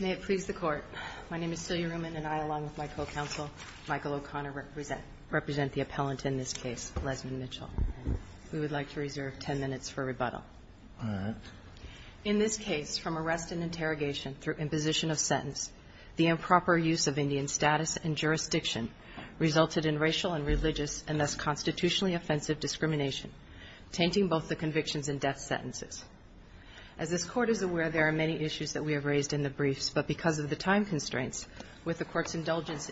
May it please the Court. My name is Celia Reumann, and I, along with my co-counsel, Michael O'Connor, represent the appellant in this case, Lesley Mitchell. We would like to reserve 10 minutes for rebuttal. All right. In this case, from arrest and interrogation through imposition of sentence, the improper use of Indian status and jurisdiction resulted in racial and religious and thus constitutionally offensive discrimination, tainting both the convictions and death sentences. As this Court is aware, there are many issues that we have raised in the briefs, but because of the time constraints, with the Court's indulgence,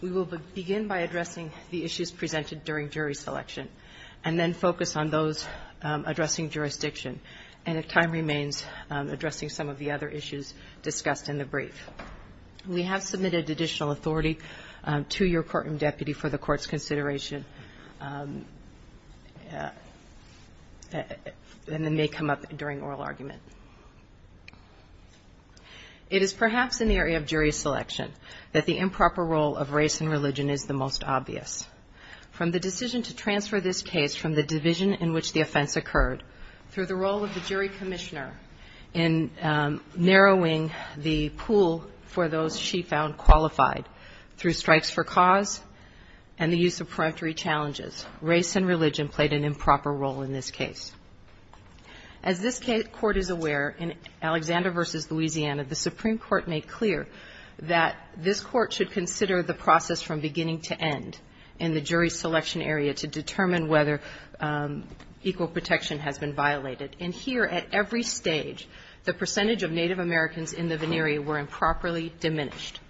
we will begin by addressing the issues presented during jury selection and then focus on those addressing jurisdiction. And if time remains, addressing some of the other issues discussed in the brief. We have submitted additional authority to your courtroom deputy for the Court's consideration, and it may come up during oral argument. It is perhaps in the area of jury selection that the improper role of race and religion is the most obvious. From the decision to transfer this case from the division in which the offense occurred through the role of the jury commissioner in narrowing the pool for those she found qualified through strikes for cause and the use of peremptory challenges, race and religion played an improper role in this case. As this Court is aware, in Alexander v. Louisiana, the Supreme Court made clear that this Court should consider the process from beginning to end in the jury selection area to determine whether equal protection has been violated. And here, at every stage, the percentage of Native Americans in the venere were improperly diminished.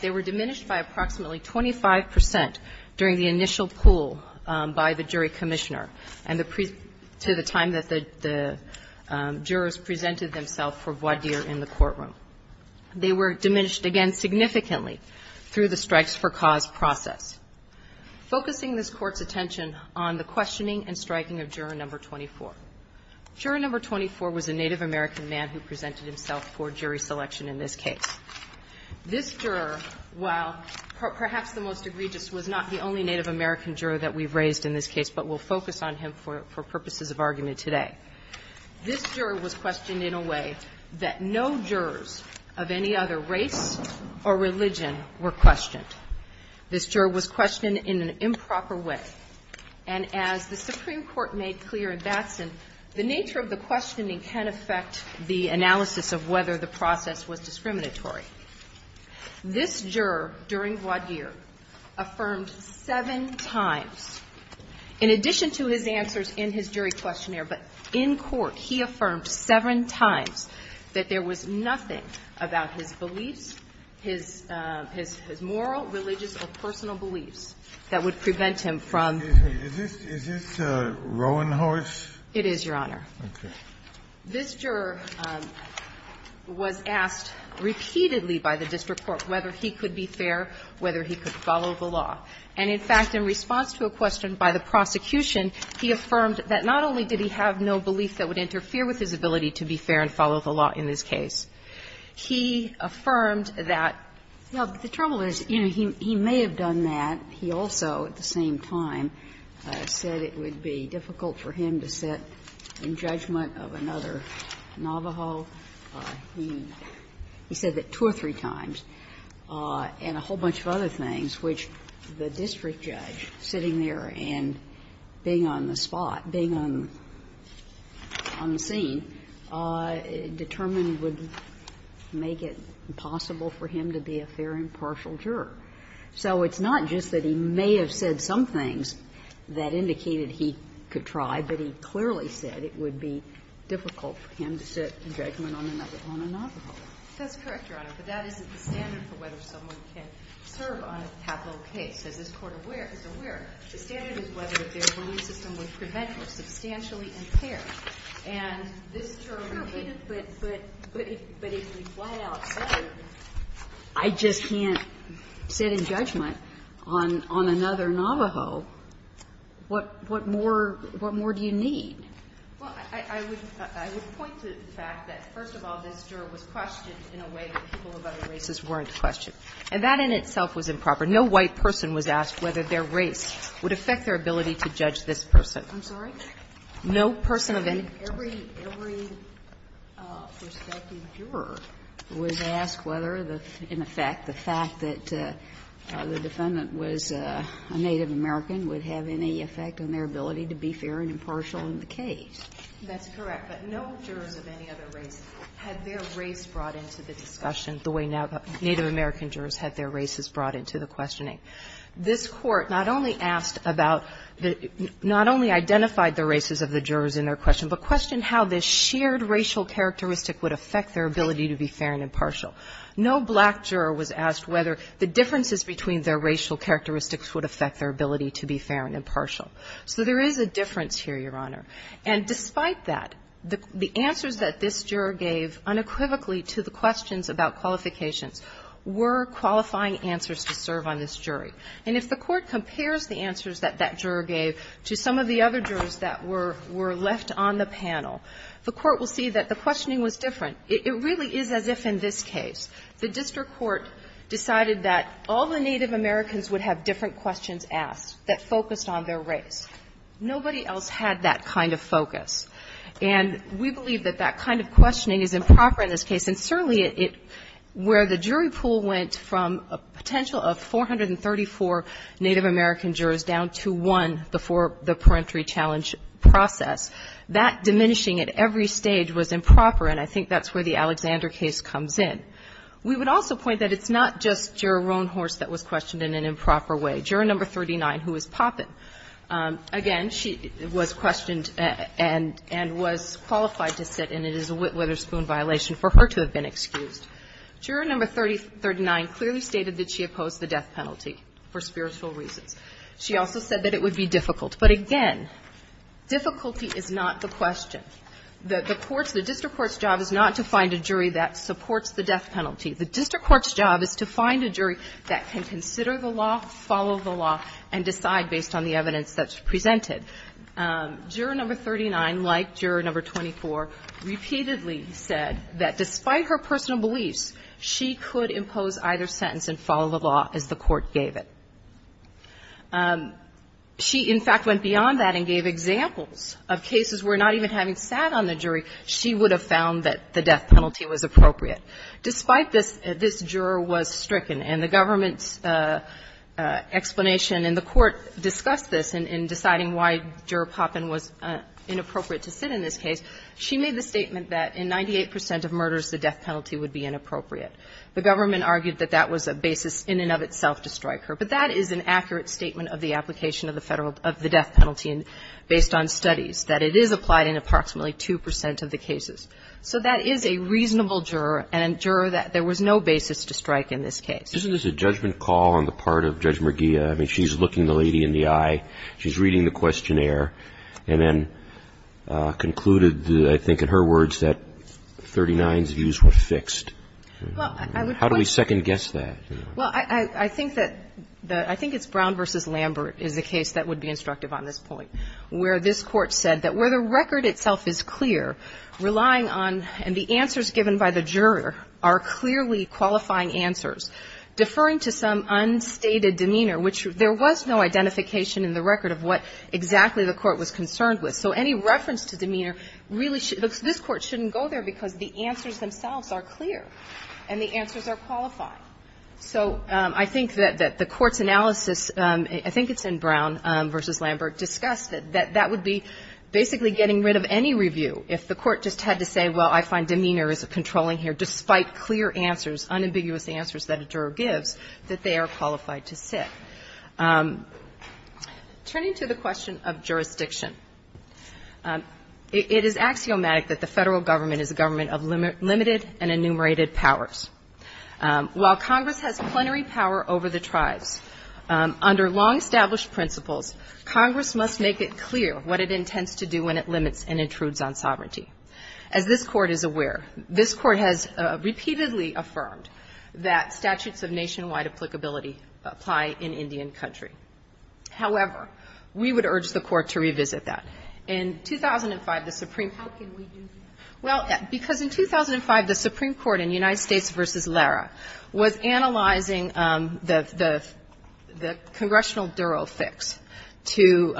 They were diminished by approximately 25 percent during the initial pool by the jury commissioner, and to the time that the jurors presented themselves for voir dire in the courtroom. They were diminished again significantly through the strikes for cause process. Focusing this Court's attention on the questioning and striking of Juror No. 24. Juror No. 24 was a Native American man who presented himself for jury selection in this case. This juror, while perhaps the most egregious, was not the only Native American juror that we've raised in this case, but we'll focus on him for purposes of argument today. This juror was questioned in a way that no jurors of any other race or religion were questioned. This juror was questioned in an improper way, and as the Supreme Court made clear in Batson, the nature of the questioning can affect the analysis of whether the process was discriminatory. This juror, during voir dire, affirmed seven times, in addition to his answers in his jury questionnaire, but in court, he affirmed seven times that there was nothing about his moral, religious, or personal beliefs that would prevent him from. Sotomayor, is this Roanhorse? It is, Your Honor. Okay. This juror was asked repeatedly by the district court whether he could be fair, whether he could follow the law. And, in fact, in response to a question by the prosecution, he affirmed that not only did he have no belief that would interfere with his ability to be fair and follow the law in this case. He affirmed that the trouble is, you know, he may have done that. He also, at the same time, said it would be difficult for him to sit in judgment of another Navajo. He said that two or three times. And a whole bunch of other things, which the district judge, sitting there and being on the spot, being on the scene, determined would make it impossible for him to be a fair and partial juror. So it's not just that he may have said some things that indicated he could try, but he clearly said it would be difficult for him to sit in judgment on another Navajo. That's correct, Your Honor. But that isn't the standard for whether someone can serve on a capital case. As this Court is aware, the standard is whether their belief system would prevent or substantially impair. And this juror repeated, but if he flat-out said, I just can't sit in judgment on another Navajo, what more do you need? Well, I would point to the fact that, first of all, this juror was questioned in a way that people of other races weren't questioned. And that in itself was improper. No white person was asked whether their race would affect their ability to judge this person. I'm sorry? No person of any. Every, every prospective juror was asked whether, in effect, the fact that the defendant was a Native American would have any effect on their ability to be fair and impartial in the case. That's correct. But no jurors of any other race had their race brought into the discussion the way Native American jurors had their races brought into the questioning. This Court not only asked about, not only identified the races of the jurors in their question, but questioned how this shared racial characteristic would affect their ability to be fair and impartial. No black juror was asked whether the differences between their racial characteristics would affect their ability to be fair and impartial. So there is a difference here, Your Honor. And despite that, the answers that this juror gave unequivocally to the questions about qualifications were qualifying answers to serve on this jury. And if the Court compares the answers that that juror gave to some of the other jurors that were left on the panel, the Court will see that the questioning was different. It really is as if in this case the district court decided that all the Native Americans would have different questions asked that focused on their race. Nobody else had that kind of focus. And we believe that that kind of questioning is improper in this case, and certainly it, where the jury pool went from a potential of 434 Native American jurors down to one before the peremptory challenge process, that diminishing at every stage was improper, and I think that's where the Alexander case comes in. We would also point that it's not just Juror Roanhorse that was questioned in an improper way. Juror No. 39, who was Poppen, again, she was questioned and was qualified to sit, and it is a Whitwaterspoon violation for her to have been excused. Juror No. 39 clearly stated that she opposed the death penalty for spiritual reasons. She also said that it would be difficult. But again, difficulty is not the question. The court's, the district court's job is not to find a jury that supports the death penalty. The district court's job is to find a jury that can consider the law, follow the law, and decide based on the evidence that's presented. Juror No. 39, like Juror No. 24, repeatedly said that despite her personal beliefs, she could impose either sentence and follow the law as the court gave it. She, in fact, went beyond that and gave examples of cases where not even having sat on the jury, she would have found that the death penalty was appropriate. Despite this, this juror was stricken, and the government's explanation and the court discussed this in deciding why Juror Poppin was inappropriate to sit in this case. She made the statement that in 98 percent of murders, the death penalty would be inappropriate. The government argued that that was a basis in and of itself to strike her. But that is an accurate statement of the application of the federal, of the death penalty based on studies, that it is applied in approximately 2 percent of the cases. So that is a reasonable juror and a juror that there was no basis to strike in this case. Isn't this a judgment call on the part of Judge Merguia? I mean, she's looking the lady in the eye. She's reading the questionnaire, and then concluded, I think in her words, that 39's views were fixed. Well, I would point to that. How do we second-guess that? Well, I think that the – I think it's Brown v. Lambert is the case that would be instructive on this point, where this Court said that where the record itself is clear, relying on – and the answers given by the juror are clearly qualifying answers, deferring to some unstated demeanor, which there was no identification in the record of what exactly the Court was concerned with. So any reference to demeanor really – this Court shouldn't go there because the answers themselves are clear and the answers are qualifying. So I think that the Court's analysis – I think it's in Brown v. Lambert – discussed that that would be basically getting rid of any review if the Court just had to say, well, I find demeanor is controlling here, despite clear answers, unambiguous answers that a juror gives, that they are qualified to sit. Turning to the question of jurisdiction, it is axiomatic that the Federal Government is a government of limited and enumerated powers. While Congress has plenary power over the tribes, under long-established principles, Congress must make it clear what it intends to do when it limits and intrudes on sovereignty. As this Court is aware, this Court has repeatedly affirmed that statutes of nationwide applicability apply in Indian country. However, we would urge the Court to revisit that. In 2005, the Supreme Court – How can we do that? Well, because in 2005, the Supreme Court in United States v. Lara was analyzing the – the congressional duro fix to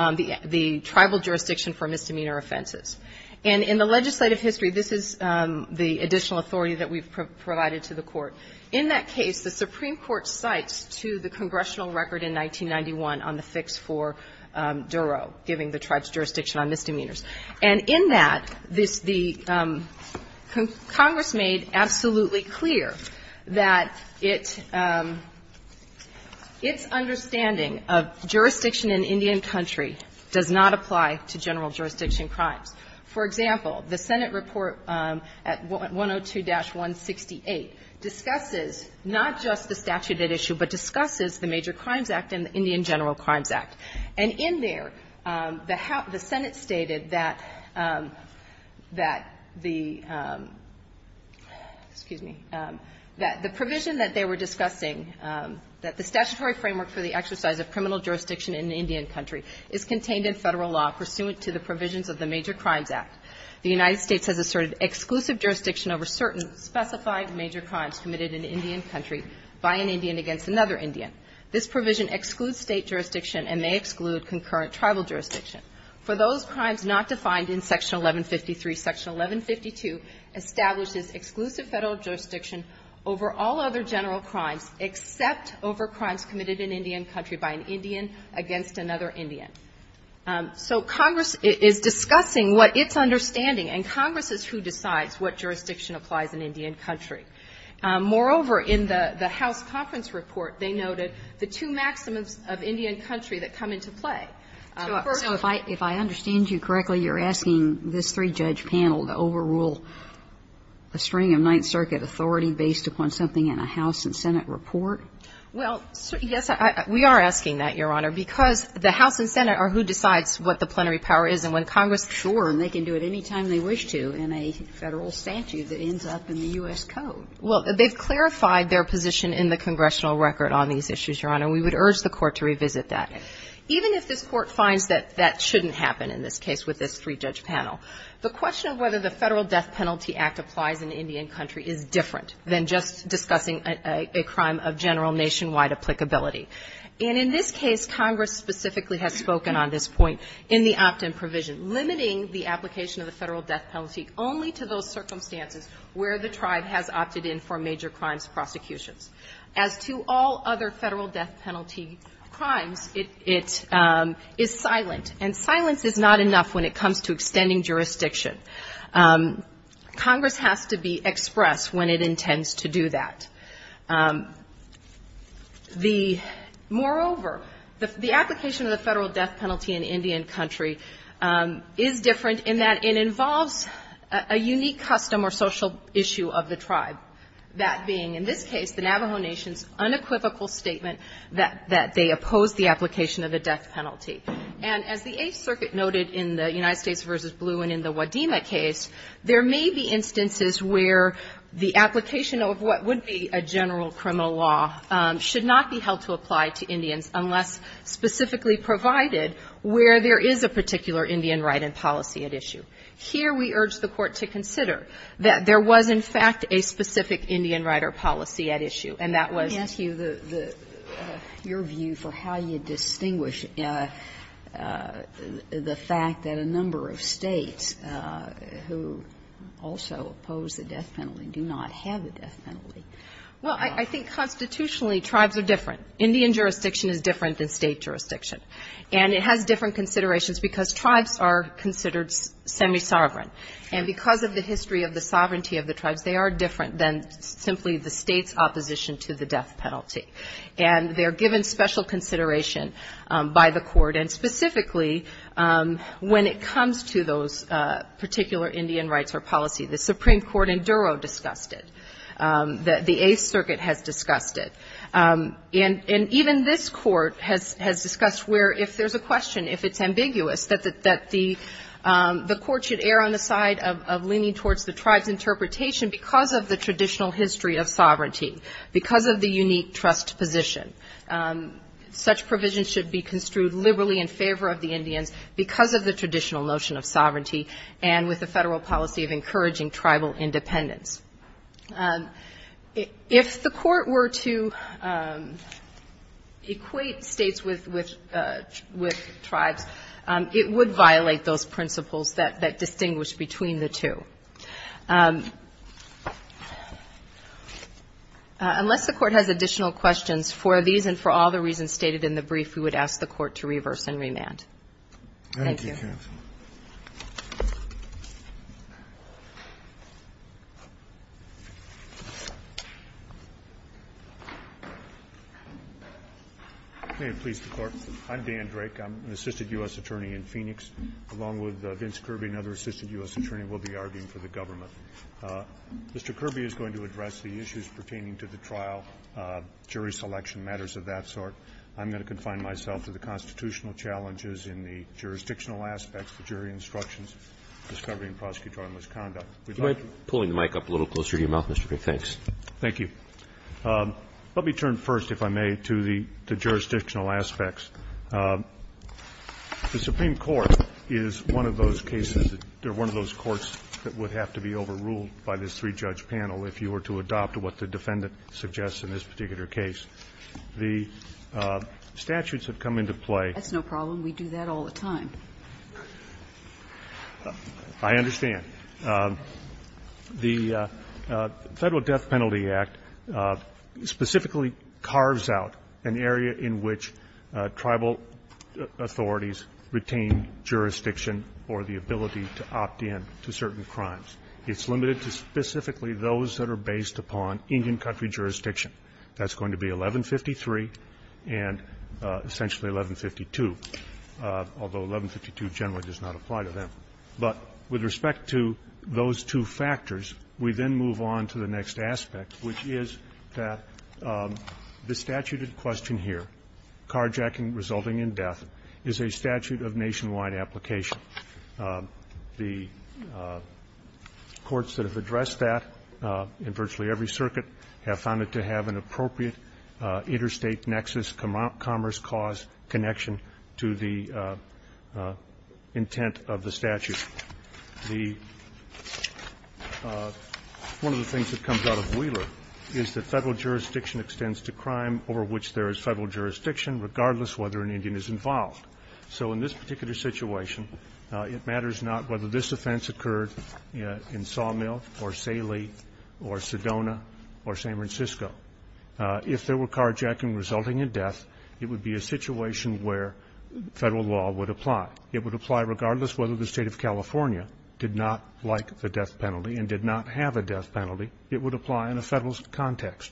the tribal jurisdiction for misdemeanor offenses. And in the legislative history, this is the additional authority that we've provided to the Court. In that case, the Supreme Court cites to the congressional record in 1991 on the fix for duro, giving the tribes jurisdiction on misdemeanors. And in that, this – the Congress made absolutely clear that it – its understanding of jurisdiction in Indian country does not apply to general jurisdiction crimes. For example, the Senate report at 102-168 discusses not just the statute at issue, but discusses the Major Crimes Act and the Indian General Crimes Act. And in there, the Senate stated that the – excuse me – that the provision that they were discussing, that the statutory framework for the exercise of criminal jurisdiction in Indian country is contained in Federal law pursuant to the provisions of the Major Crimes Act. The United States has asserted exclusive jurisdiction over certain specified major crimes committed in Indian country by an Indian against another Indian. This provision excludes State jurisdiction and may exclude concurrent tribal jurisdiction. For those crimes not defined in Section 1153, Section 1152 establishes exclusive Federal jurisdiction over all other general crimes except over crimes committed in Indian country by an Indian against another Indian. So Congress is discussing what its understanding, and Congress is who decides what jurisdiction applies in Indian country. Moreover, in the House conference report, they noted the two maximums of Indian country that come into play. First of all, if I understand you correctly, you're asking this three-judge panel to overrule a string of Ninth Circuit authority based upon something in a House and Senate report? Well, yes. We are asking that, Your Honor, because the House and Senate are who decides what the plenary power is. And when Congress says, sure, and they can do it any time they wish to in a Federal statute that ends up in the U.S. Code. Well, they've clarified their position in the Congressional record on these issues, Your Honor. We would urge the Court to revisit that. Even if this Court finds that that shouldn't happen in this case with this three-judge panel, the question of whether the Federal Death Penalty Act applies in Indian country is different than just discussing a crime of general nationwide applicability. And in this case, Congress specifically has spoken on this point in the opt-in provision, limiting the application of the Federal death penalty only to those circumstances where the tribe has opted in for major crimes prosecutions. As to all other Federal death penalty crimes, it is silent. And silence is not enough when it comes to extending jurisdiction. Congress has to be expressed when it intends to do that. Moreover, the application of the Federal death penalty in Indian country is different in that it involves a unique custom or social issue of the tribe. That being, in this case, the Navajo Nation's unequivocal statement that they opposed the application of the death penalty. And as the Eighth Circuit noted in the United States v. Blue and in the Wadima case, there may be instances where the application of what would be a general criminal law should not be held to apply to Indians unless specifically provided where there is a particular Indian right and policy at issue. Here, we urge the Court to consider that there was, in fact, a specific Indian right or policy at issue, and that was the case. Do you also oppose the death penalty and do not have the death penalty? Well, I think constitutionally tribes are different. Indian jurisdiction is different than State jurisdiction. And it has different considerations because tribes are considered semisovereign. And because of the history of the sovereignty of the tribes, they are different than simply the State's opposition to the death penalty. And they are given special consideration by the Court. And specifically, when it comes to those particular Indian rights or policy, the Supreme Court in Duro discussed it. The Eighth Circuit has discussed it. And even this Court has discussed where, if there's a question, if it's ambiguous, that the Court should err on the side of leaning towards the tribe's interpretation because of the traditional history of sovereignty, because of the unique trust position. Such provision should be construed liberally in favor of the Indians because of the traditional notion of sovereignty and with the Federal policy of encouraging tribal independence. If the Court were to equate States with tribes, it would violate those principles that distinguish between the two. Unless the Court has additional questions for these and for all the reasons stated in the brief, we would ask the Court to reverse and remand. Thank you. Thank you, counsel. May it please the Court. I'm Dan Drake. I'm an assistant U.S. attorney in Phoenix. Along with Vince Kirby, another assistant U.S. attorney, we'll be arguing for the government. Mr. Kirby is going to address the issues pertaining to the trial, jury selection matters of that sort. I'm going to confine myself to the constitutional challenges in the jurisdictional aspects, the jury instructions, discovery and prosecutorial misconduct. We'd like to do that. Can you mind pulling the mic up a little closer to your mouth, Mr. Drake? Thanks. Thank you. Let me turn first, if I may, to the jurisdictional aspects. The Supreme Court is one of those cases that they're one of those courts that would have to be overruled by this three-judge panel if you were to adopt what the defendant suggests in this particular case. The statutes have come into play. That's no problem. We do that all the time. I understand. The Federal Death Penalty Act specifically carves out an area in which tribal authorities retain jurisdiction or the ability to opt in to certain crimes. It's limited to specifically those that are based upon Indian country jurisdiction. That's going to be 1153 and essentially 1152, although 1152 generally does not apply to them. But with respect to those two factors, we then move on to the next aspect, which is that the statute in question here, carjacking resulting in death, is a statute of nationwide application. The courts that have addressed that in virtually every circuit have found it to have an appropriate interstate nexus commerce cause connection to the intent of the statute. The one of the things that comes out of Wheeler is that Federal jurisdiction extends to crime over which there is Federal jurisdiction, regardless whether an Indian is involved. So in this particular situation, it matters not whether this offense occurred in Sawmill or Salie or Sedona or San Francisco. If there were carjacking resulting in death, it would be a situation where Federal law would apply. It would apply regardless whether the State of California did not like the death penalty and did not have a death penalty. It would apply in a Federal context.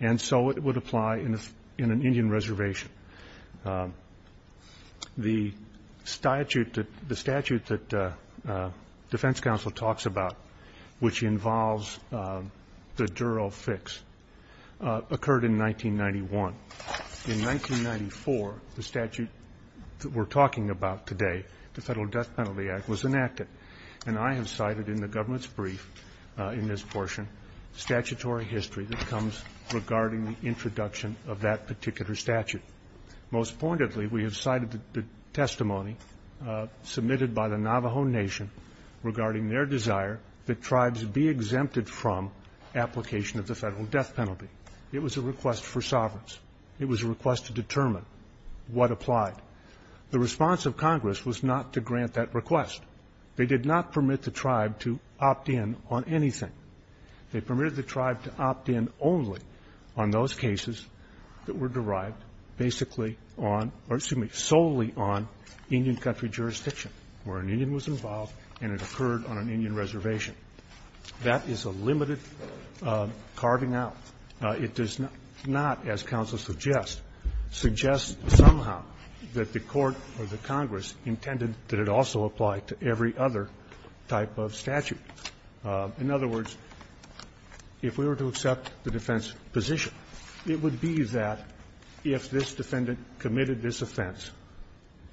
And so it would apply in an Indian reservation. The statute that the statute that defense counsel talks about, which involves the Durrell fix, occurred in 1991. In 1994, the statute that we're talking about today, the Federal Death Penalty Act, was enacted. And I have cited in the government's brief in this portion statutory history that comes regarding the introduction of that particular statute. Most pointedly, we have cited the testimony submitted by the Navajo Nation regarding their desire that tribes be exempted from application of the Federal death penalty. It was a request for sovereigns. It was a request to determine what applied. The response of Congress was not to grant that request. They did not permit the tribe to opt in on anything. They permitted the tribe to opt in only on those cases that were derived basically on or, excuse me, solely on Indian country jurisdiction, where an Indian was involved and it occurred on an Indian reservation. That is a limited carving out. It does not, as counsel suggests, suggest somehow that the Court or the Congress intended that it also apply to every other type of statute. In other words, if we were to accept the defense position, it would be that if this defendant committed this offense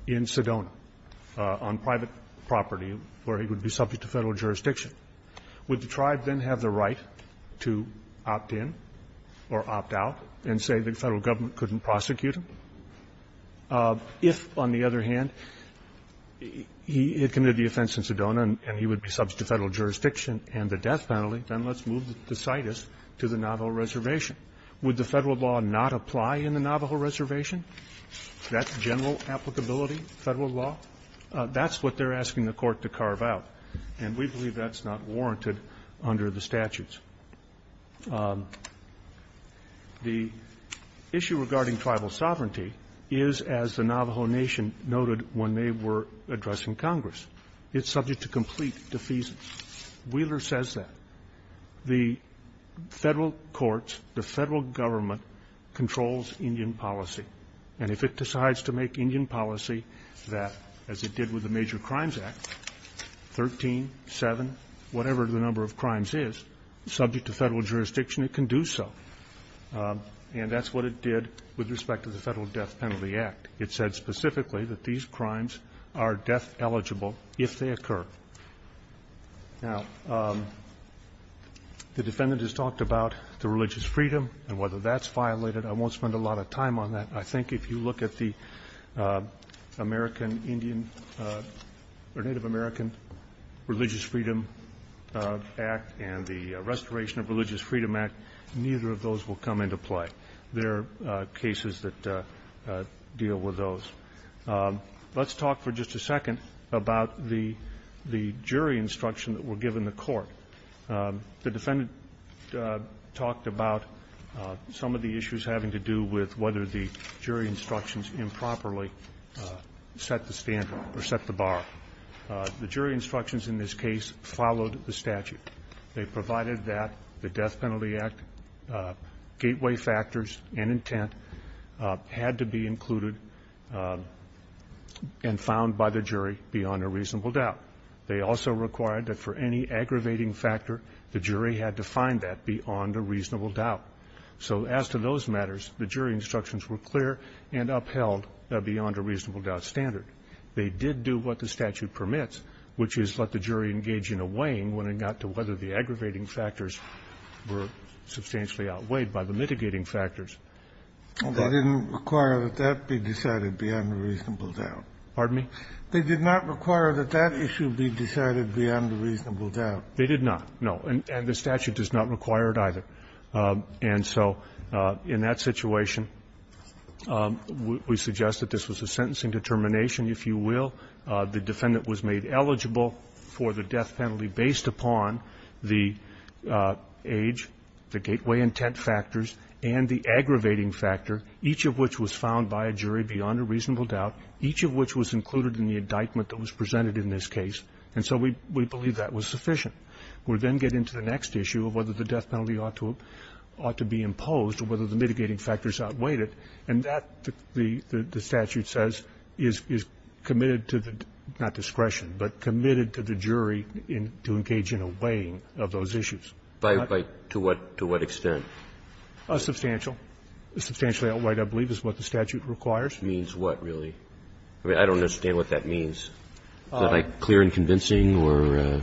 in Sedona on private property where he would be subject to Federal jurisdiction, would the tribe then have the right to opt in or opt out and say the Federal government couldn't prosecute him? If, on the other hand, he had committed the offense in Sedona and he would be subject to Federal jurisdiction and the death penalty, then let's move the citus to the Navajo reservation. Would the Federal law not apply in the Navajo reservation? That's general applicability, Federal law? That's what they're asking the Court to carve out, and we believe that's not warranted under the statutes. The issue regarding tribal sovereignty is, as the Navajo Nation noted when they were Wheeler says that the Federal courts, the Federal government controls Indian policy. And if it decides to make Indian policy that, as it did with the Major Crimes Act, 13, 7, whatever the number of crimes is, subject to Federal jurisdiction, it can do so. And that's what it did with respect to the Federal Death Penalty Act. It said specifically that these crimes are death eligible if they occur. Now, the defendant has talked about the religious freedom and whether that's violated. I won't spend a lot of time on that. I think if you look at the American Indian or Native American Religious Freedom Act and the Restoration of Religious Freedom Act, neither of those will come into play. There are cases that deal with those. Let's talk for just a second about the jury instruction that were given the court. The defendant talked about some of the issues having to do with whether the jury instructions improperly set the standard or set the bar. The jury instructions in this case followed the statute. They provided that the Death Penalty Act gateway factors and intent had to be included and found by the jury beyond a reasonable doubt. They also required that for any aggravating factor, the jury had to find that beyond a reasonable doubt. So as to those matters, the jury instructions were clear and upheld beyond a reasonable doubt standard. They did do what the statute permits, which is let the jury engage in a weighing when it got to whether the aggravating factors were substantially outweighed by the mitigating factors. They didn't require that that be decided beyond a reasonable doubt. Pardon me? They did not require that that issue be decided beyond a reasonable doubt. They did not, no. And the statute does not require it either. And so in that situation, we suggest that this was a sentencing determination, if you will. The defendant was made eligible for the death penalty based upon the age, the gateway intent factors, and the aggravating factor, each of which was found by a jury beyond a reasonable doubt, each of which was included in the indictment that was presented in this case, and so we believe that was sufficient. We then get into the next issue of whether the death penalty ought to be imposed or whether the mitigating factors outweighed it, and that, the statute says, is committed to the, not discretion, but committed to the jury in, to engage in a weighing of those issues. By what, to what, to what extent? Substantial. Substantially outweighed, I believe, is what the statute requires. Means what, really? I mean, I don't understand what that means. Is that, like, clear and convincing or?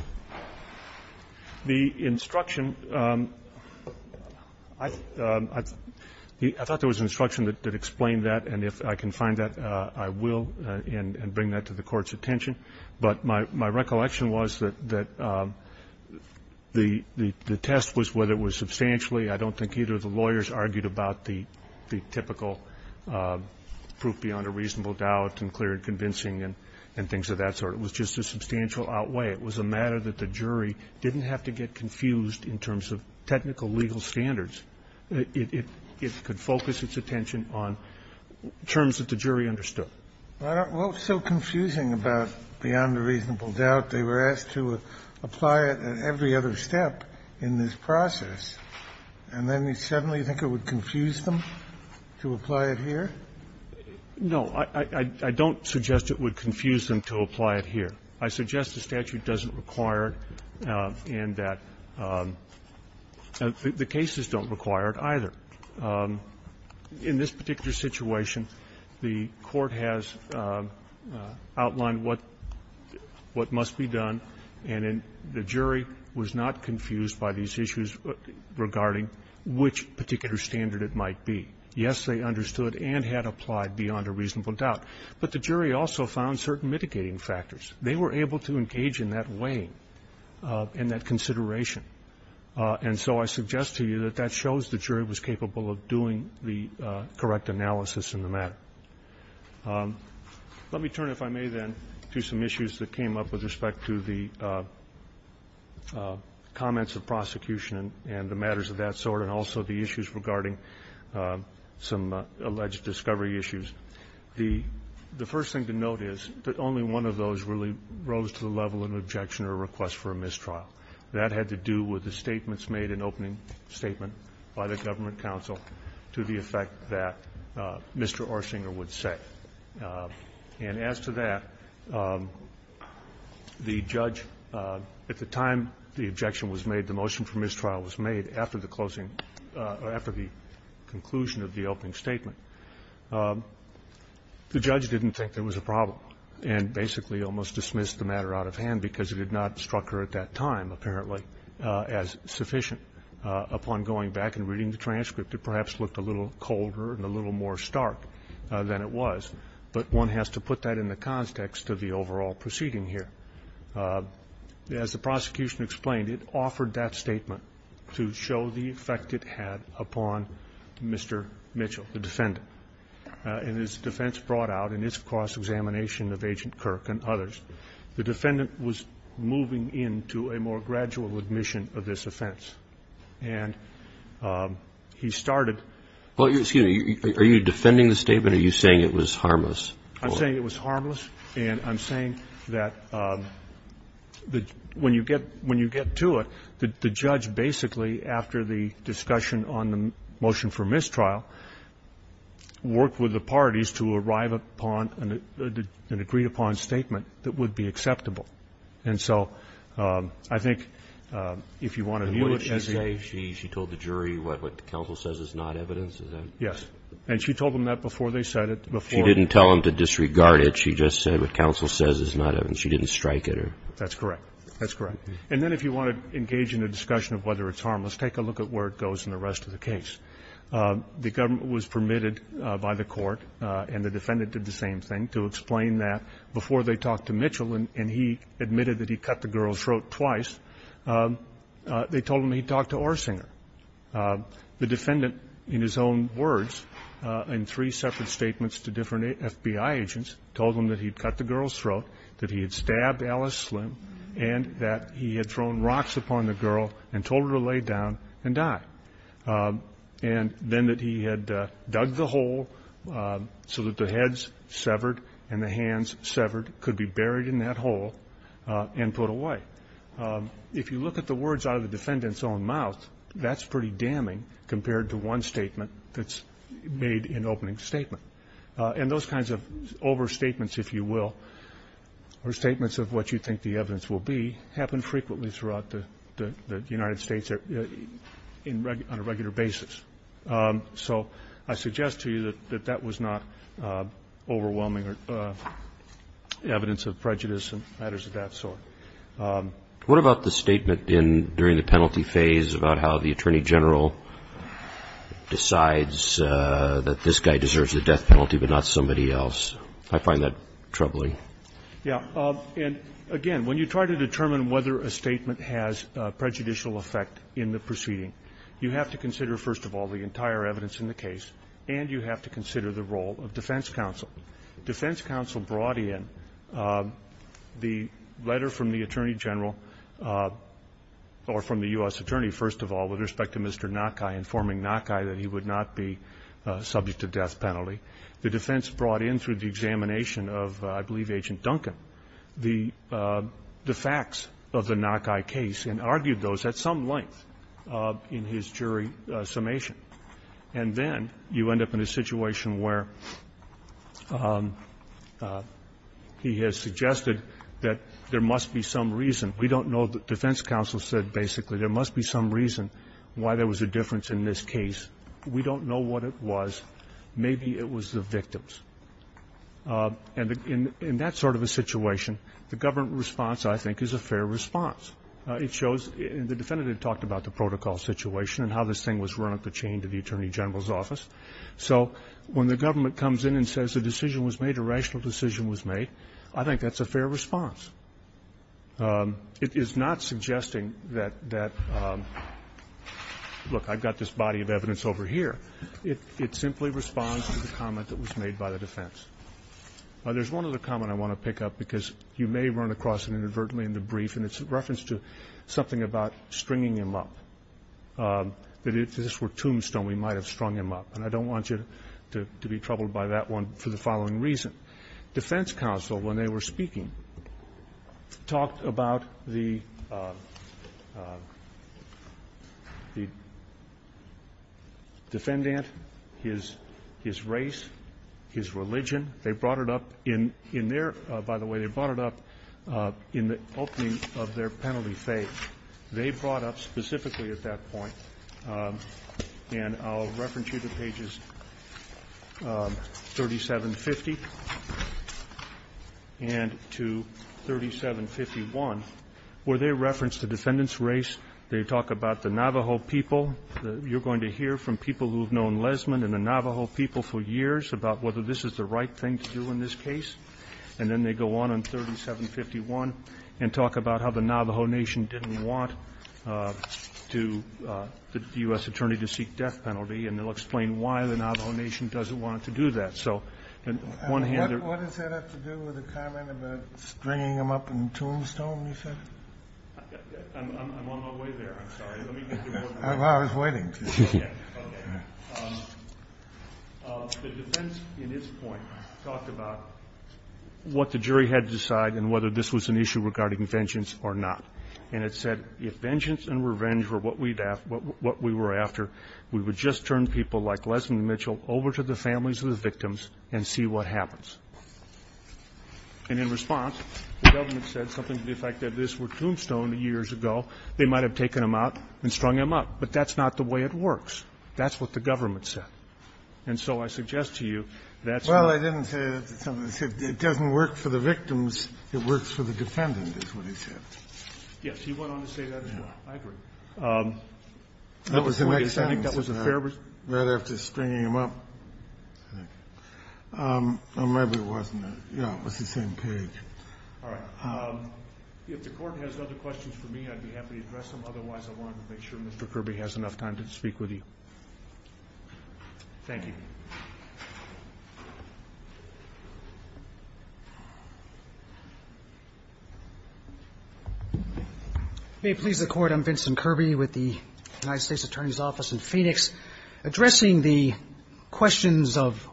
The instruction, I thought there was an instruction that explained that, and if I can find that, I will, and bring that to the Court's attention. But my recollection was that the test was whether it was substantially. I don't think either of the lawyers argued about the typical proof beyond a reasonable doubt and clear and convincing and things of that sort. It was just a substantial outweigh. It was a matter that the jury didn't have to get confused in terms of technical legal standards. It could focus its attention on terms that the jury understood. Well, what's so confusing about beyond a reasonable doubt? They were asked to apply it at every other step in this process, and then you suddenly think it would confuse them to apply it here? No. I don't suggest it would confuse them to apply it here. I suggest the statute doesn't require it, and that the cases don't require it either. In this particular situation, the Court has outlined what must be done, and the jury was not confused by these issues regarding which particular standard it might be. Yes, they understood and had applied beyond a reasonable doubt, but the jury also found certain mitigating factors. They were able to engage in that way, in that consideration. And so I suggest to you that that shows the jury was capable of doing the correct analysis in the matter. Let me turn, if I may, then, to some issues that came up with respect to the comments of prosecution and the matters of that sort, and also the issues regarding some alleged discovery issues. The first thing to note is that only one of those really rose to the level of an objection or a request for a mistrial. That had to do with the statements made in opening statement by the government counsel to the effect that Mr. Orsinger would say. And as to that, the judge, at the time the objection was made, the motion for mistrial was made after the closing or after the conclusion of the opening statement. The judge didn't think there was a problem and basically almost dismissed the matter out of hand, because it had not struck her at that time, apparently, as sufficient. Upon going back and reading the transcript, it perhaps looked a little colder and a little more stark than it was, but one has to put that in the context of the overall proceeding here. As the prosecution explained, it offered that statement to show the effect it had upon Mr. Mitchell, the defendant, and his defense brought out in its cross-examination of Agent Kirk and others. The defendant was moving into a more gradual admission of this offense, and he started to say he was harmless. I'm saying it was harmless, and I'm saying that when you get to it, the judge basically after the discussion on the motion for mistrial worked with the parties to arrive upon an agreed-upon statement that would be acceptable. And so I think if you want to view it as a unit of evidence, you have to look at the Roberts. And what did she say? She told the jury what the counsel says is not evidence, is that it? Yes. And she told them that before they said it, before. She didn't tell them to disregard it. She just said what counsel says is not evidence. She didn't strike at her. That's correct. That's correct. And then if you want to engage in a discussion of whether it's harmless, take a look at where it goes in the rest of the case. The government was permitted by the Court, and the defendant did the same thing, to explain that before they talked to Mitchell and he admitted that he cut the girl's throat twice, they told him he talked to Orsinger. The defendant, in his own words, in three separate statements to different FBI agents, told them that he'd cut the girl's throat, that he had stabbed Alice Slim, and that he had thrown rocks upon the girl and told her to lay down and die, and then that he had dug the hole so that the heads severed and the hands severed could be buried in that hole and put away. If you look at the words out of the defendant's own mouth, that's pretty damning compared to one statement that's made in opening statement. And those kinds of overstatements, if you will, or statements of what you think the evidence will be, happen frequently throughout the United States on a regular basis. So I suggest to you that that was not overwhelming evidence of prejudice and matters of that sort. What about the statement during the penalty phase about how the Attorney General decides that this guy deserves the death penalty but not somebody else? I find that troubling. Yeah. And again, when you try to determine whether a statement has prejudicial effect in the proceeding, you have to consider, first of all, the entire evidence in the case, and you have to consider the role of defense counsel. Defense counsel brought in the letter from the Attorney General, or from the U.S. Attorney, first of all, with respect to Mr. Nakai, informing Nakai that he would not be subject to death penalty. The defense brought in through the examination of, I believe, Agent Duncan, the facts of the Nakai case and argued those at some length in his jury summation. And then you end up in a situation where he has suggested that there must be some reason. We don't know. Defense counsel said, basically, there must be some reason why there was a difference in this case. We don't know what it was. Maybe it was the victims. And in that sort of a situation, the government response, I think, is a fair response. It shows the defendant had talked about the protocol situation and how this thing was run up the chain to the Attorney General's office. So when the government comes in and says a decision was made, a rational decision was made, I think that's a fair response. It is not suggesting that, look, I've got this body of evidence over here. It simply responds to the comment that was made by the defense. There's one other comment I want to pick up, because you may run across it inadvertently in the brief, and it's in reference to something about stringing him up, that if this were tombstone, we might have strung him up. And I don't want you to be troubled by that one for the following reason. Defense counsel, when they were speaking, talked about the defendant, his race, his religion. They brought it up in their – by the way, they brought it up in the opening of their penalty fate. They brought up specifically at that point, and I'll reference you to pages 3750, and to 3751, where they reference the defendant's race. They talk about the Navajo people. You're going to hear from people who have known Lesmond and the Navajo people for years about whether this is the right thing to do in this case. And then they go on in 3751 and talk about how the Navajo Nation didn't want to – the U.S. Attorney to seek death penalty, and they'll explain why the Navajo Nation doesn't want to do that. So, on the one hand – What does that have to do with the comment about stringing him up in tombstone, you said? I'm on my way there. I'm sorry. Let me get to work. I was waiting. Okay. The defense, in its point, talked about what the jury had to decide and whether this was an issue regarding vengeance or not. And it said, if vengeance and revenge were what we were after, we would just turn people like Lesmond Mitchell over to the families of the victims and see what happens. And in response, the government said something to the effect that if this were tombstone years ago, they might have taken him out and strung him up. But that's not the way it works. That's what the government said. And so I suggest to you that's why – Well, I didn't say that. It doesn't work for the victims. It works for the defendant, is what he said. Yes. He went on to say that as well. I agree. That was the next sentence. I think it was right after stringing him up. I think. Or maybe it wasn't. Yeah. It was the same page. All right. If the Court has other questions for me, I'd be happy to address them. Otherwise, I want to make sure Mr. Kirby has enough time to speak with you. Thank you. I'm Vincent Kirby with the United States Attorney's Office in Phoenix. Addressing the questions of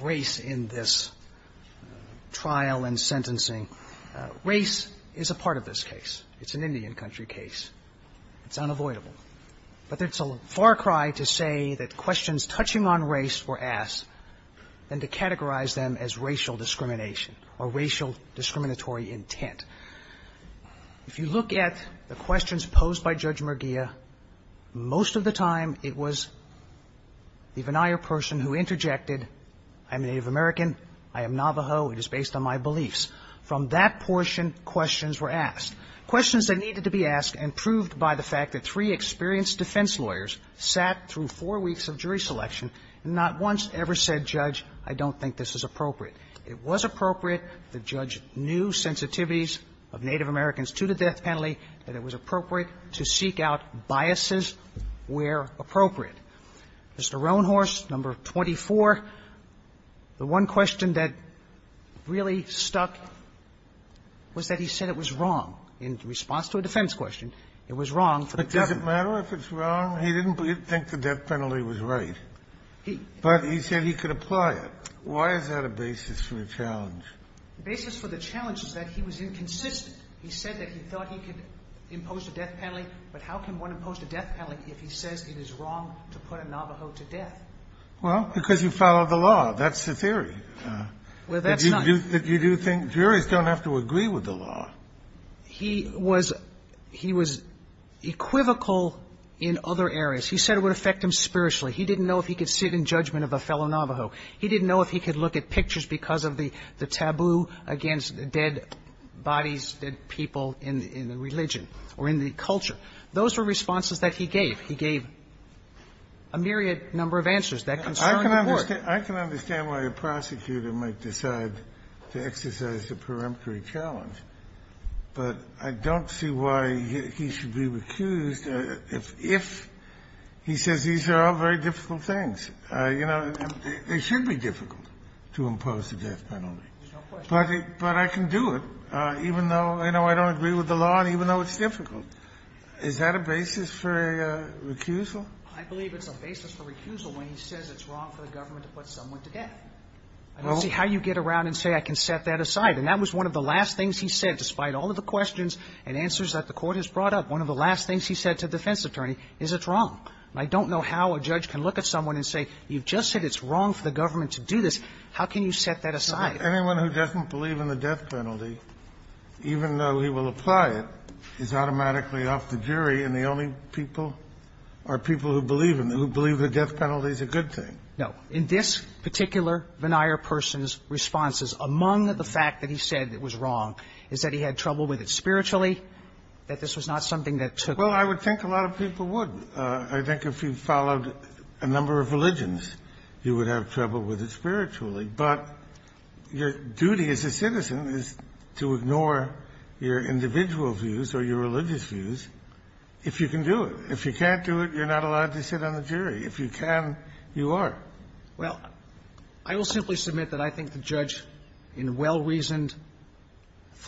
race in this trial and sentencing, race is a part of this case. It's an Indian country case. It's unavoidable. But it's a far cry to say that questions touching on race were asked and to categorize them as racial discrimination or racial discriminatory intent. If you look at the questions posed by Judge Murgia, most of the time it was the venire person who interjected, I'm Native American, I am Navajo, it is based on my beliefs. From that portion, questions were asked, questions that needed to be asked and proved by the fact that three experienced defense lawyers sat through four weeks of jury selection and not once ever said, Judge, I don't think this is appropriate. It was appropriate to judge new sensitivities of Native Americans to the death penalty and it was appropriate to seek out biases where appropriate. Mr. Roanhorse, No. 24, the one question that really stuck was that he said it was wrong, in response to a defense question, it was wrong for the defendant. But does it matter if it's wrong? He didn't think the death penalty was right. He didn't. But he said he could apply it. Why is that a basis for the challenge? The basis for the challenge is that he was inconsistent. He said that he thought he could impose a death penalty, but how can one impose a death penalty if he says it is wrong to put a Navajo to death? Well, because you follow the law. That's the theory. Well, that's not. You do think juries don't have to agree with the law. He was he was equivocal in other areas. He said it would affect him spiritually. He didn't know if he could sit in judgment of a fellow Navajo. He didn't know if he could look at pictures because of the taboo against dead bodies, dead people in the religion or in the culture. Those were responses that he gave. He gave a myriad number of answers. That concerned the Court. I can understand why a prosecutor might decide to exercise a peremptory challenge, but I don't see why he should be recused if he says these are all very difficult things. You know, it should be difficult to impose a death penalty. But I can do it even though, you know, I don't agree with the law and even though it's difficult. Is that a basis for a recusal? I believe it's a basis for recusal when he says it's wrong for the government to put someone to death. I don't see how you get around and say I can set that aside. And that was one of the last things he said, despite all of the questions and answers that the Court has brought up. One of the last things he said to the defense attorney is it's wrong. And I don't know how a judge can look at someone and say you've just said it's wrong for the government to do this. How can you set that aside? Kennedy, anyone who doesn't believe in the death penalty, even though he will apply it, is automatically off the jury, and the only people are people who believe in it, who believe the death penalty is a good thing. No. In this particular veneer person's responses, among the fact that he said it was wrong is that he had trouble with it spiritually, that this was not something that took Well, I would think a lot of people would. I think if you followed a number of religions, you would have trouble with it spiritually. But your duty as a citizen is to ignore your individual views or your religious views if you can do it. If you can't do it, you're not allowed to sit on the jury. If you can, you are. Well, I will simply submit that I think the judge, in a well-reasoned,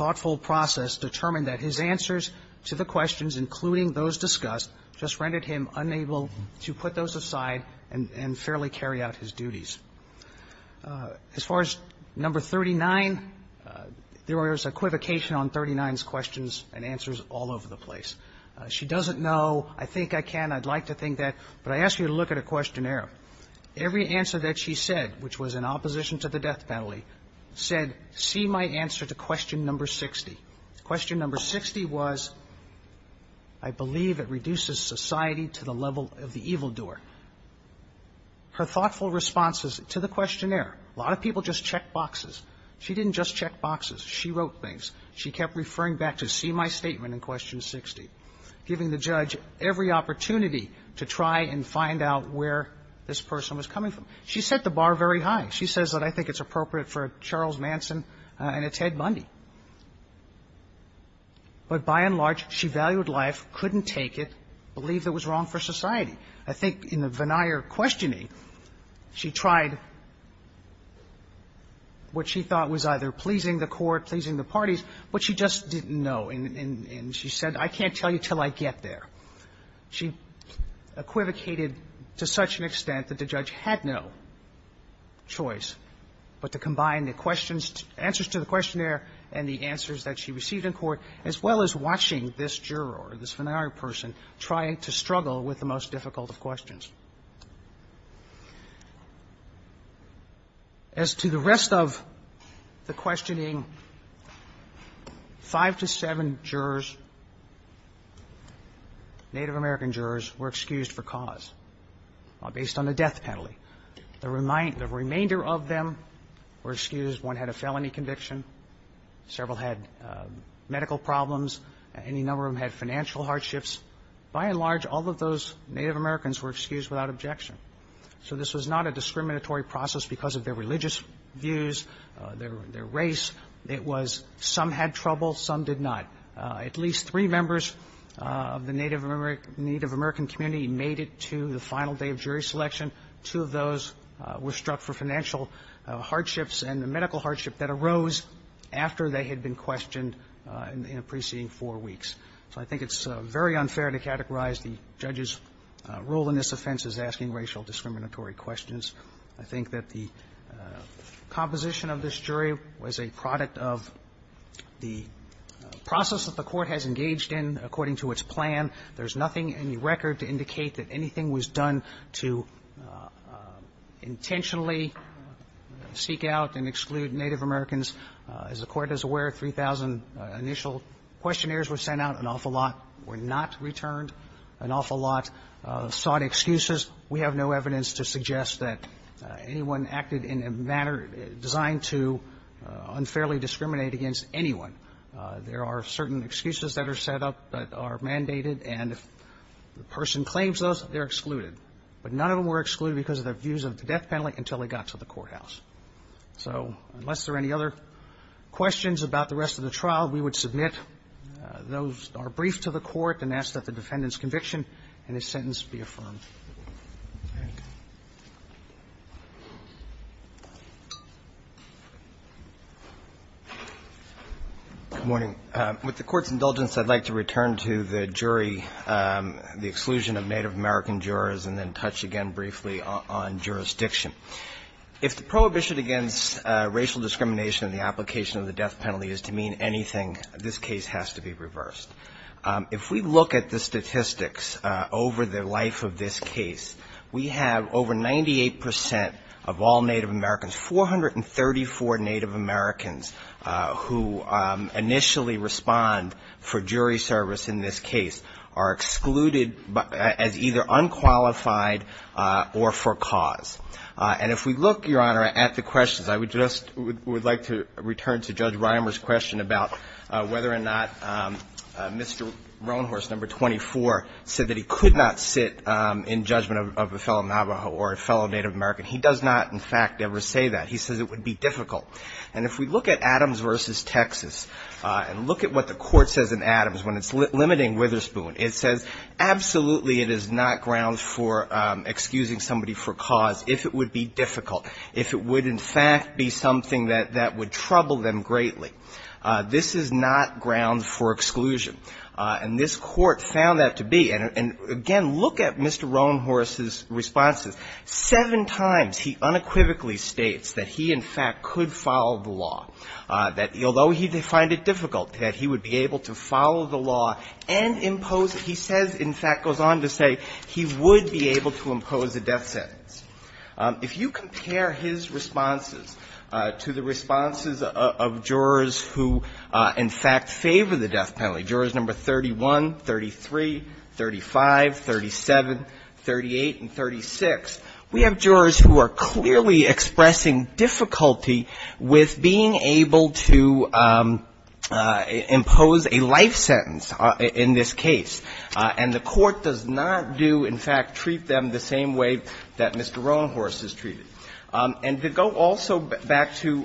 thoughtful process, determined that his answers to the questions, including those discussed, just rendered him unable to put those aside and fairly carry out his duties. As far as number 39, there was equivocation on 39's questions and answers all over the place. She doesn't know. I think I can. I'd like to think that. But I ask you to look at a questionnaire. Every answer that she said, which was in opposition to the death penalty, said, see my answer to question number 60. Question number 60 was, I believe it reduces society to the level of the evildoer. Her thoughtful responses to the questionnaire, a lot of people just checked boxes. She didn't just check boxes. She wrote things. She kept referring back to, see my statement in question 60, giving the judge every opportunity to try and find out where this person was coming from. She set the bar very high. She says that I think it's appropriate for a Charles Manson and a Ted Bundy. But by and large, she valued life, couldn't take it, believed it was wrong for society. I think in the Vennire questioning, she tried what she thought was either pleasing the court, pleasing the parties, but she just didn't know. And she said, I can't tell you until I get there. She equivocated to such an extent that the judge had no choice but to combine the questions, answers to the questionnaire and the answers that she received in court, as well as watching this juror, this Vennire person, trying to struggle with the most difficult of questions. As to the rest of the questioning, five to seven jurors, Native American jurors, were excused for cause based on a death penalty. The remainder of them were excused. One had a felony conviction, several had medical problems, any number of them had financial hardships. By and large, all of those Native Americans were excused without objection. So this was not a discriminatory process because of their religious views, their race. It was some had trouble, some did not. At least three members of the Native American community made it to the final day of jury selection. Two of those were struck for financial hardships and the medical hardship that arose after they had been questioned in the preceding four weeks. So I think it's very unfair to categorize the judge's role in this offense as asking racial discriminatory questions. I think that the composition of this jury was a product of the process that the court has engaged in according to its plan. There's nothing in the record to indicate that anything was done to intentionally seek out and exclude Native Americans. As the Court is aware, 3,000 initial questionnaires were sent out, an awful lot were not returned, an awful lot sought excuses. We have no evidence to suggest that anyone acted in a manner designed to unfairly discriminate against anyone. There are certain excuses that are set up that are mandated, and if the person claims those, they're excluded. But none of them were excluded because of their views of the death penalty until they got to the courthouse. So unless there are any other questions about the rest of the trial, we would submit those, are briefed to the court, and ask that the defendant's conviction in his sentence be affirmed. Thank you. Good morning. With the Court's indulgence, I'd like to return to the jury, the exclusion of Native American jurors, and then touch again briefly on jurisdiction. If the prohibition against racial discrimination in the application of the death penalty is to mean anything, this case has to be reversed. If we look at the statistics over the life of this case, we have over 98 percent of all Native Americans, 434 Native Americans who initially respond for jury service in this case, are excluded as either unqualified or for cause. And if we look, Your Honor, at the questions, I would just – would like to return to Judge Reimer's question about whether or not Mr. Roanhorse, No. 24, said that he could not sit in judgment of a fellow Navajo or a fellow Native American. He does not, in fact, ever say that. He says it would be difficult. And if we look at Adams v. Texas, and look at what the Court says in Adams when it's limiting Witherspoon, it says, absolutely, it is not grounds for excusing somebody for cause if it would be difficult, if it would, in fact, be something that would trouble them greatly. This is not grounds for exclusion. And this Court found that to be. And again, look at Mr. Roanhorse's responses. Seven times he unequivocally states that he, in fact, could follow the law, that although he would find it difficult, that he would be able to follow the law and impose it. He says, in fact, goes on to say he would be able to impose a death sentence. If you compare his responses to the responses of jurors who, in fact, favor the death penalty, jurors No. 31, 33, 35, 37, 38, and 36, we have jurors who are clearly expressing difficulty with being able to impose a life sentence in this case. And the Court does not do, in fact, treat them the same way that Mr. Roanhorse is treated. And to go also back to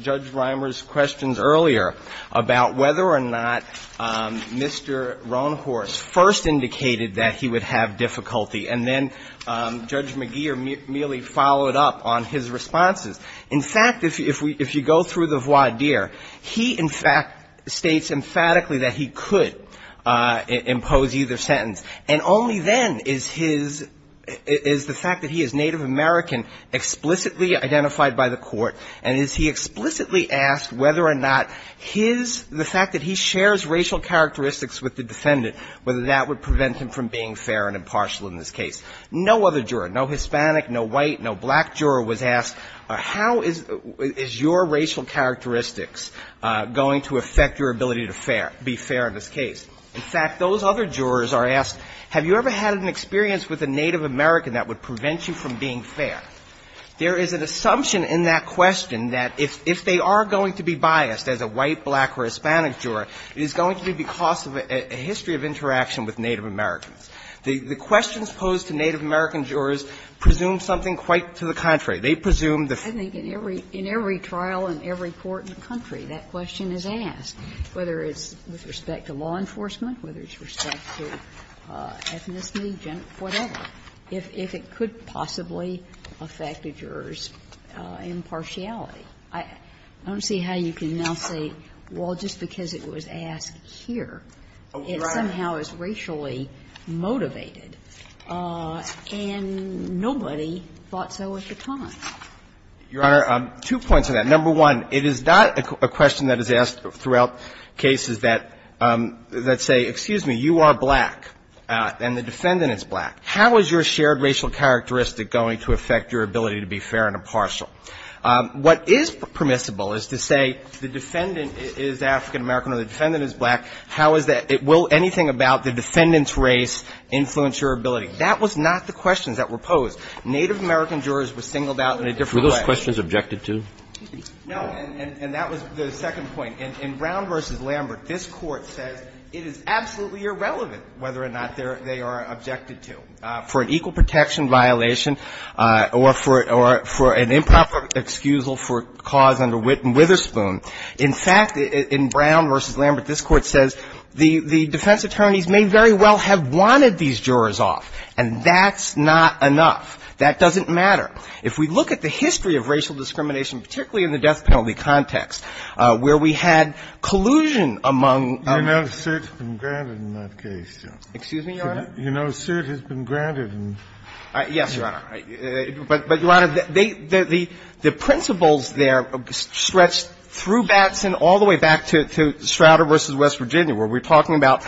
Judge Reimer's questions earlier about whether or not Mr. Roanhorse first indicated that he would have difficulty, and then Judge McGeer merely followed up on his responses. In fact, if you go through the voir dire, he, in fact, states emphatically that he could impose either sentence. And only then is his, is the fact that he is Native American explicitly identified by the Court, and is he explicitly asked whether or not his, the fact that he shares racial characteristics with the defendant, whether that would prevent him from being fair and impartial in this case. No other juror, no Hispanic, no white, no black juror was asked, how is your racial characteristics going to affect your ability to fair, be fair in this case? In fact, those other jurors are asked, have you ever had an experience with a Native American that would prevent you from being fair? There is an assumption in that question that if they are going to be biased as a white, black, or Hispanic juror, it is going to be because of a history of interaction with Native Americans. The questions posed to Native American jurors presume something quite to the contrary. They presume the fact that the defendant is fair. Sotomayor, I don't see how you can now say, well, just because it was asked here, it somehow is racially motivated, and nobody thought so at the time. Your Honor, two points on that. Number one, it is not a question that is asked throughout cases that, that's not a question that's asked throughout cases. I would say, excuse me, you are black, and the defendant is black. How is your shared racial characteristic going to affect your ability to be fair and impartial? What is permissible is to say the defendant is African American or the defendant is black, how is that? Will anything about the defendant's race influence your ability? That was not the questions that were posed. Native American jurors were singled out in a different way. Roberts. Were those questions objected to? No, and that was the second point. In Brown v. Lambert, this Court says it is absolutely irrelevant whether or not they are objected to for an equal protection violation or for an improper excusal for cause under Whitten-Witherspoon. In fact, in Brown v. Lambert, this Court says the defense attorneys may very well have wanted these jurors off, and that's not enough. That doesn't matter. If we look at the history of racial discrimination, particularly in the death penalty context, where we had collusion among them. You know, suit has been granted in that case, Joe. Excuse me, Your Honor? You know, suit has been granted in that case. Yes, Your Honor. But, Your Honor, the principles there stretch through Batson all the way back to Strouder v. West Virginia, where we're talking about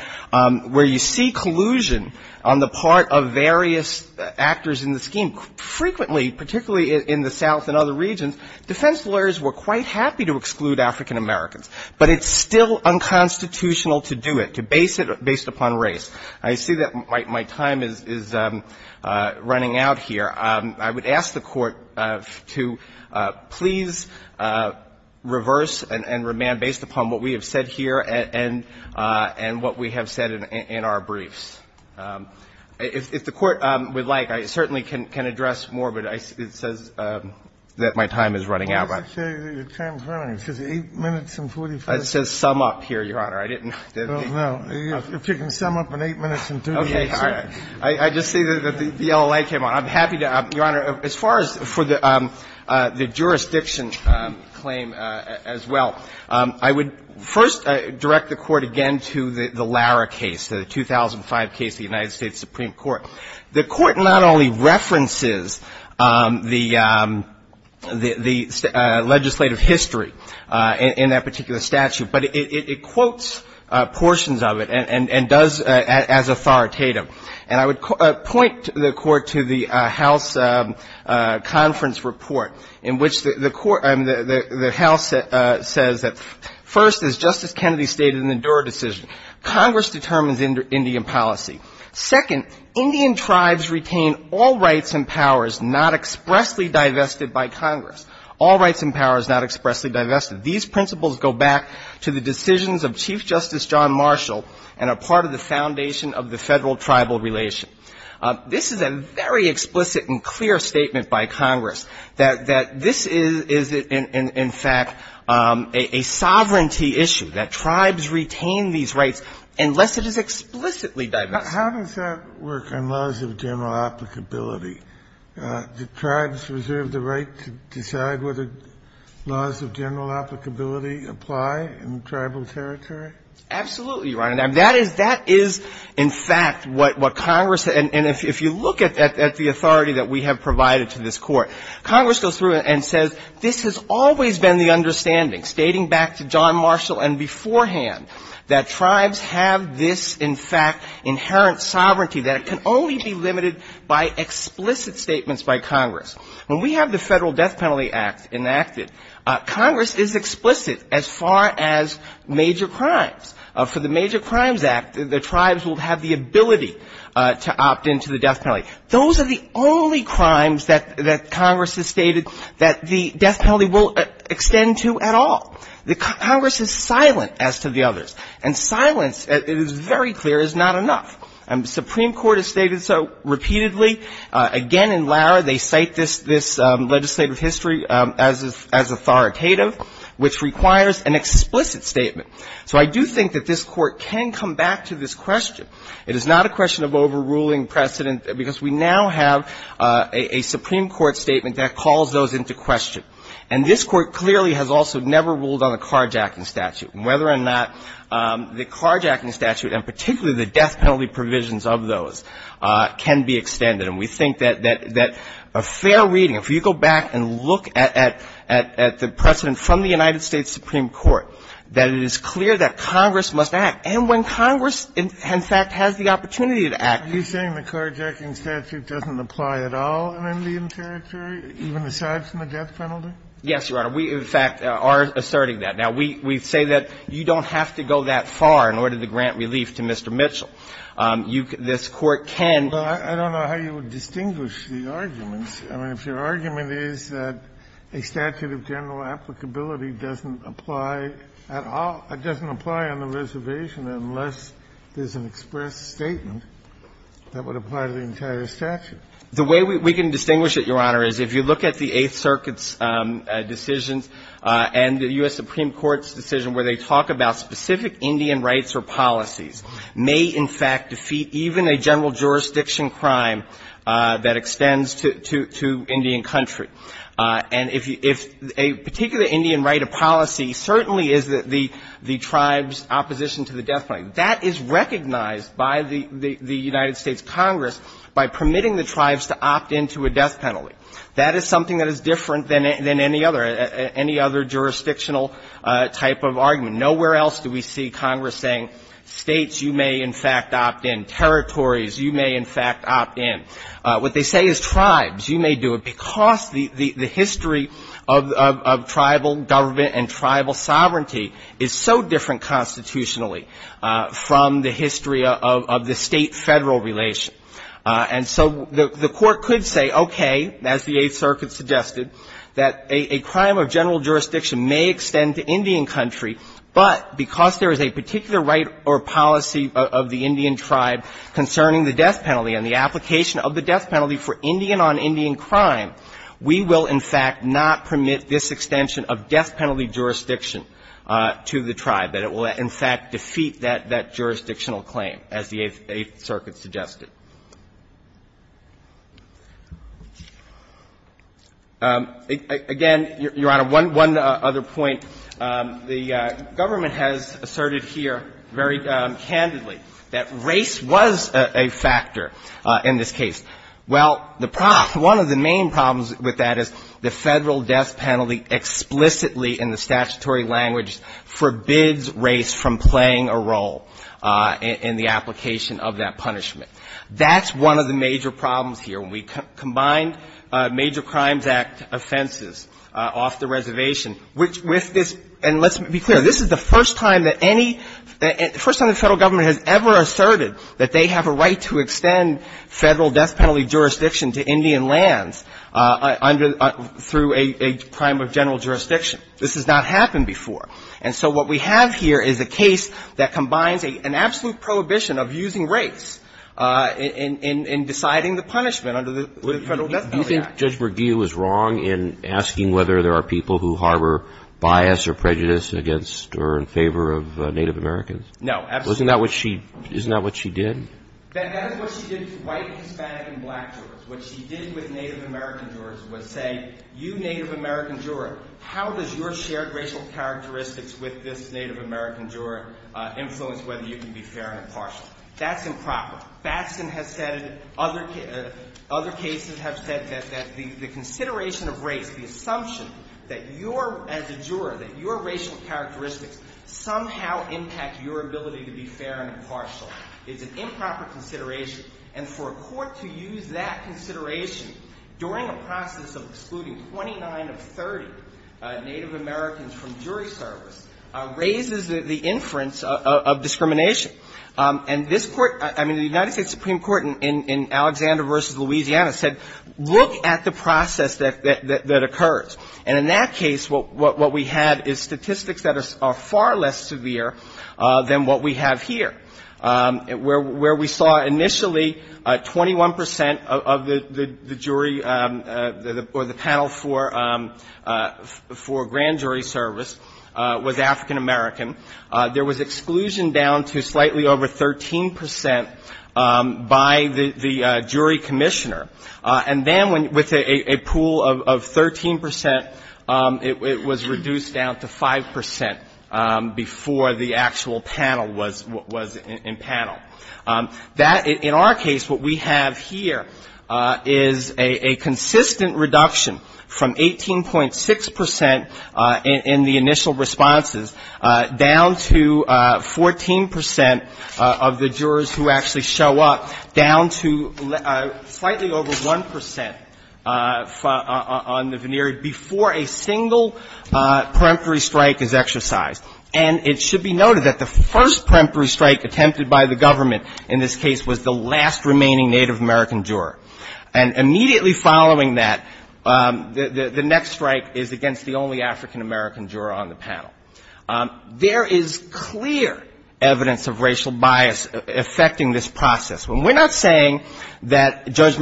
where you see collusion on the part of various actors in the scheme. Frequently, particularly in the South and other regions, defense lawyers were quite happy to exclude African-Americans, but it's still unconstitutional to do it, to base it based upon race. I see that my time is running out here. I would ask the Court to please reverse and remand based upon what we have said here and what we have said in our briefs. If the Court would like, I certainly can address more, but it says that my time is running out. Why does it say your time is running out? It says 8 minutes and 45 seconds. It says sum up here, Your Honor. I didn't think you could sum up in 8 minutes and 35 seconds. Okay. I just see that the yellow light came on. I'm happy to ask, Your Honor, as far as for the jurisdiction claim as well, I would first direct the Court again to the Lara case, the 2005 case of the United States Supreme Court. The Court not only references the legislative history in that particular statute, but it quotes portions of it and does as authoritative. And I would point the Court to the House conference report in which the Court, I mean, the House says that first, as Justice Kennedy stated in the Durer decision, Congress determines Indian policy. Second, Indian tribes retain all rights and powers not expressly divested by Congress. All rights and powers not expressly divested. These principles go back to the decisions of Chief Justice John Marshall and are part of the foundation of the Federal-Tribal relation. This is a very explicit and clear statement by Congress that this is, in fact, a sovereignty issue, that tribes retain these rights unless it is explicitly divested. How does that work on laws of general applicability? Do tribes reserve the right to decide whether laws of general applicability Absolutely, Your Honor. That is, in fact, what Congress, and if you look at the authority that we have provided to this Court, Congress goes through it and says this has always been the understanding, stating back to John Marshall and beforehand, that tribes have this, in fact, inherent sovereignty, that it can only be limited by explicit statements by Congress. When we have the Federal Death Penalty Act enacted, Congress is explicit as far as major crimes. For the Major Crimes Act, the tribes will have the ability to opt into the death penalty. Those are the only crimes that Congress has stated that the death penalty will extend to at all. The Congress is silent as to the others, and silence, it is very clear, is not enough. And the Supreme Court has stated so repeatedly. Again, in Lara, they cite this legislative history as authoritative, which requires an extended death penalty. So I do think that this Court can come back to this question. It is not a question of overruling precedent, because we now have a Supreme Court statement that calls those into question. And this Court clearly has also never ruled on the carjacking statute, and whether or not the carjacking statute, and particularly the death penalty provisions of those, can be extended. And we think that a fair reading, if you go back and look at the precedent from the United States Supreme Court, that it is clear that Congress must act. And when Congress, in fact, has the opportunity to act… Kennedy, are you saying the carjacking statute doesn't apply at all in Indian territory, even aside from the death penalty? Yes, Your Honor. We, in fact, are asserting that. Now, we say that you don't have to go that far in order to grant relief to Mr. Mitchell. This Court can… Well, I don't know how you would distinguish the arguments. I mean, if your argument is that a statute of general applicability doesn't apply at all, it doesn't apply on the reservation unless there's an express statement that would apply to the entire statute. The way we can distinguish it, Your Honor, is if you look at the Eighth Circuit's decisions and the U.S. Supreme Court's decision where they talk about specific Indian rights or policies may, in fact, defeat even a general jurisdiction crime that extends to Indian country. And if a particular Indian right or policy certainly is the tribe's opposition to the death penalty, that is recognized by the United States Congress by permitting the tribes to opt into a death penalty. That is something that is different than any other jurisdictional type of argument. Nowhere else do we see Congress saying, States, you may, in fact, opt in. Territories, you may, in fact, opt in. What they say is tribes, you may do it, because the history of tribal government and tribal sovereignty is so different constitutionally from the history of the State-Federal relation. And so the Court could say, okay, as the Eighth Circuit suggested, that a crime of general jurisdiction may extend to Indian country, but because there is a particular right or policy of the Indian tribe concerning the death penalty and the application of the death penalty for Indian-on-Indian crime, we will, in fact, not permit this extension of death penalty jurisdiction to the tribe, that it will, in fact, defeat that jurisdictional claim, as the Eighth Circuit suggested. Again, Your Honor, one other point. The government has asserted here very candidly that race was a factor in this case. Well, the problem, one of the main problems with that is the Federal death penalty explicitly in the statutory language forbids race from playing a role in the application of that punishment. That's one of the major problems here. We combined Major Crimes Act offenses off the reservation, which with this, and let's be clear, this is the first time that any, first time the Federal government has ever asserted that they have a right to extend Federal death penalty jurisdiction to Indian lands under, through a crime of general jurisdiction. This has not happened before. And so what we have here is a case that combines an absolute prohibition of using race in deciding the punishment under the Federal death penalty act. Do you think Judge Bergia was wrong in asking whether there are people who harbor bias or prejudice against or in favor of Native Americans? No, absolutely not. Isn't that what she, isn't that what she did? That is what she did to white, Hispanic, and black jurors. What she did with Native American jurors was say, you Native American juror, how does your shared racial characteristics with this Native American juror influence whether you can be fair or impartial? That's improper. Batson has said it. Other cases have said that the consideration of race, the assumption that you're, as a juror, that your racial characteristics somehow impact your ability to be fair and impartial. It's an improper consideration. And for a court to use that consideration during a process of excluding 29 of 30 Native Americans from jury service raises the inference of discrimination. And this Court, I mean, the United States Supreme Court in Alexander v. Louisiana said, look at the process that occurs. And in that case, what we had is statistics that are far less severe than what we have here, where we saw initially 21 percent of the jury or the panel for grand jury service was African American. There was exclusion down to slightly over 13 percent by the jury service. It was reduced down to 5 percent before the actual panel was in panel. That, in our case, what we have here is a consistent reduction from 18.6 percent in the initial responses, down to 14 percent of the jurors who actually show up, down to slightly over 1 percent on the veneer before a single panel jury or panel jury service. And that's where the first peremptory strike is exercised. And it should be noted that the first peremptory strike attempted by the government in this case was the last remaining Native American juror. And immediately following that, the next strike is against the only African American juror on the panel. There is clear evidence of racial bias affecting this process. When we're not saying that Judge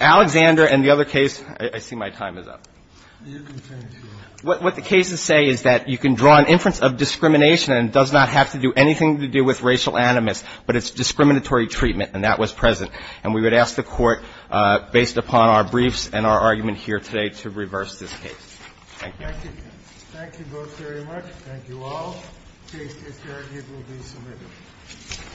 Alexander and the other case – I see my time is up. You can finish. What the cases say is that you can draw an inference of discrimination and it does not have to do anything to do with racial animus, but it's discriminatory treatment, and that was present. And we would ask the Court, based upon our briefs and our argument here today, to reverse this case. Thank you. Thank you. Thank you both very much. Thank you all. The case is adjourned. It will be submitted.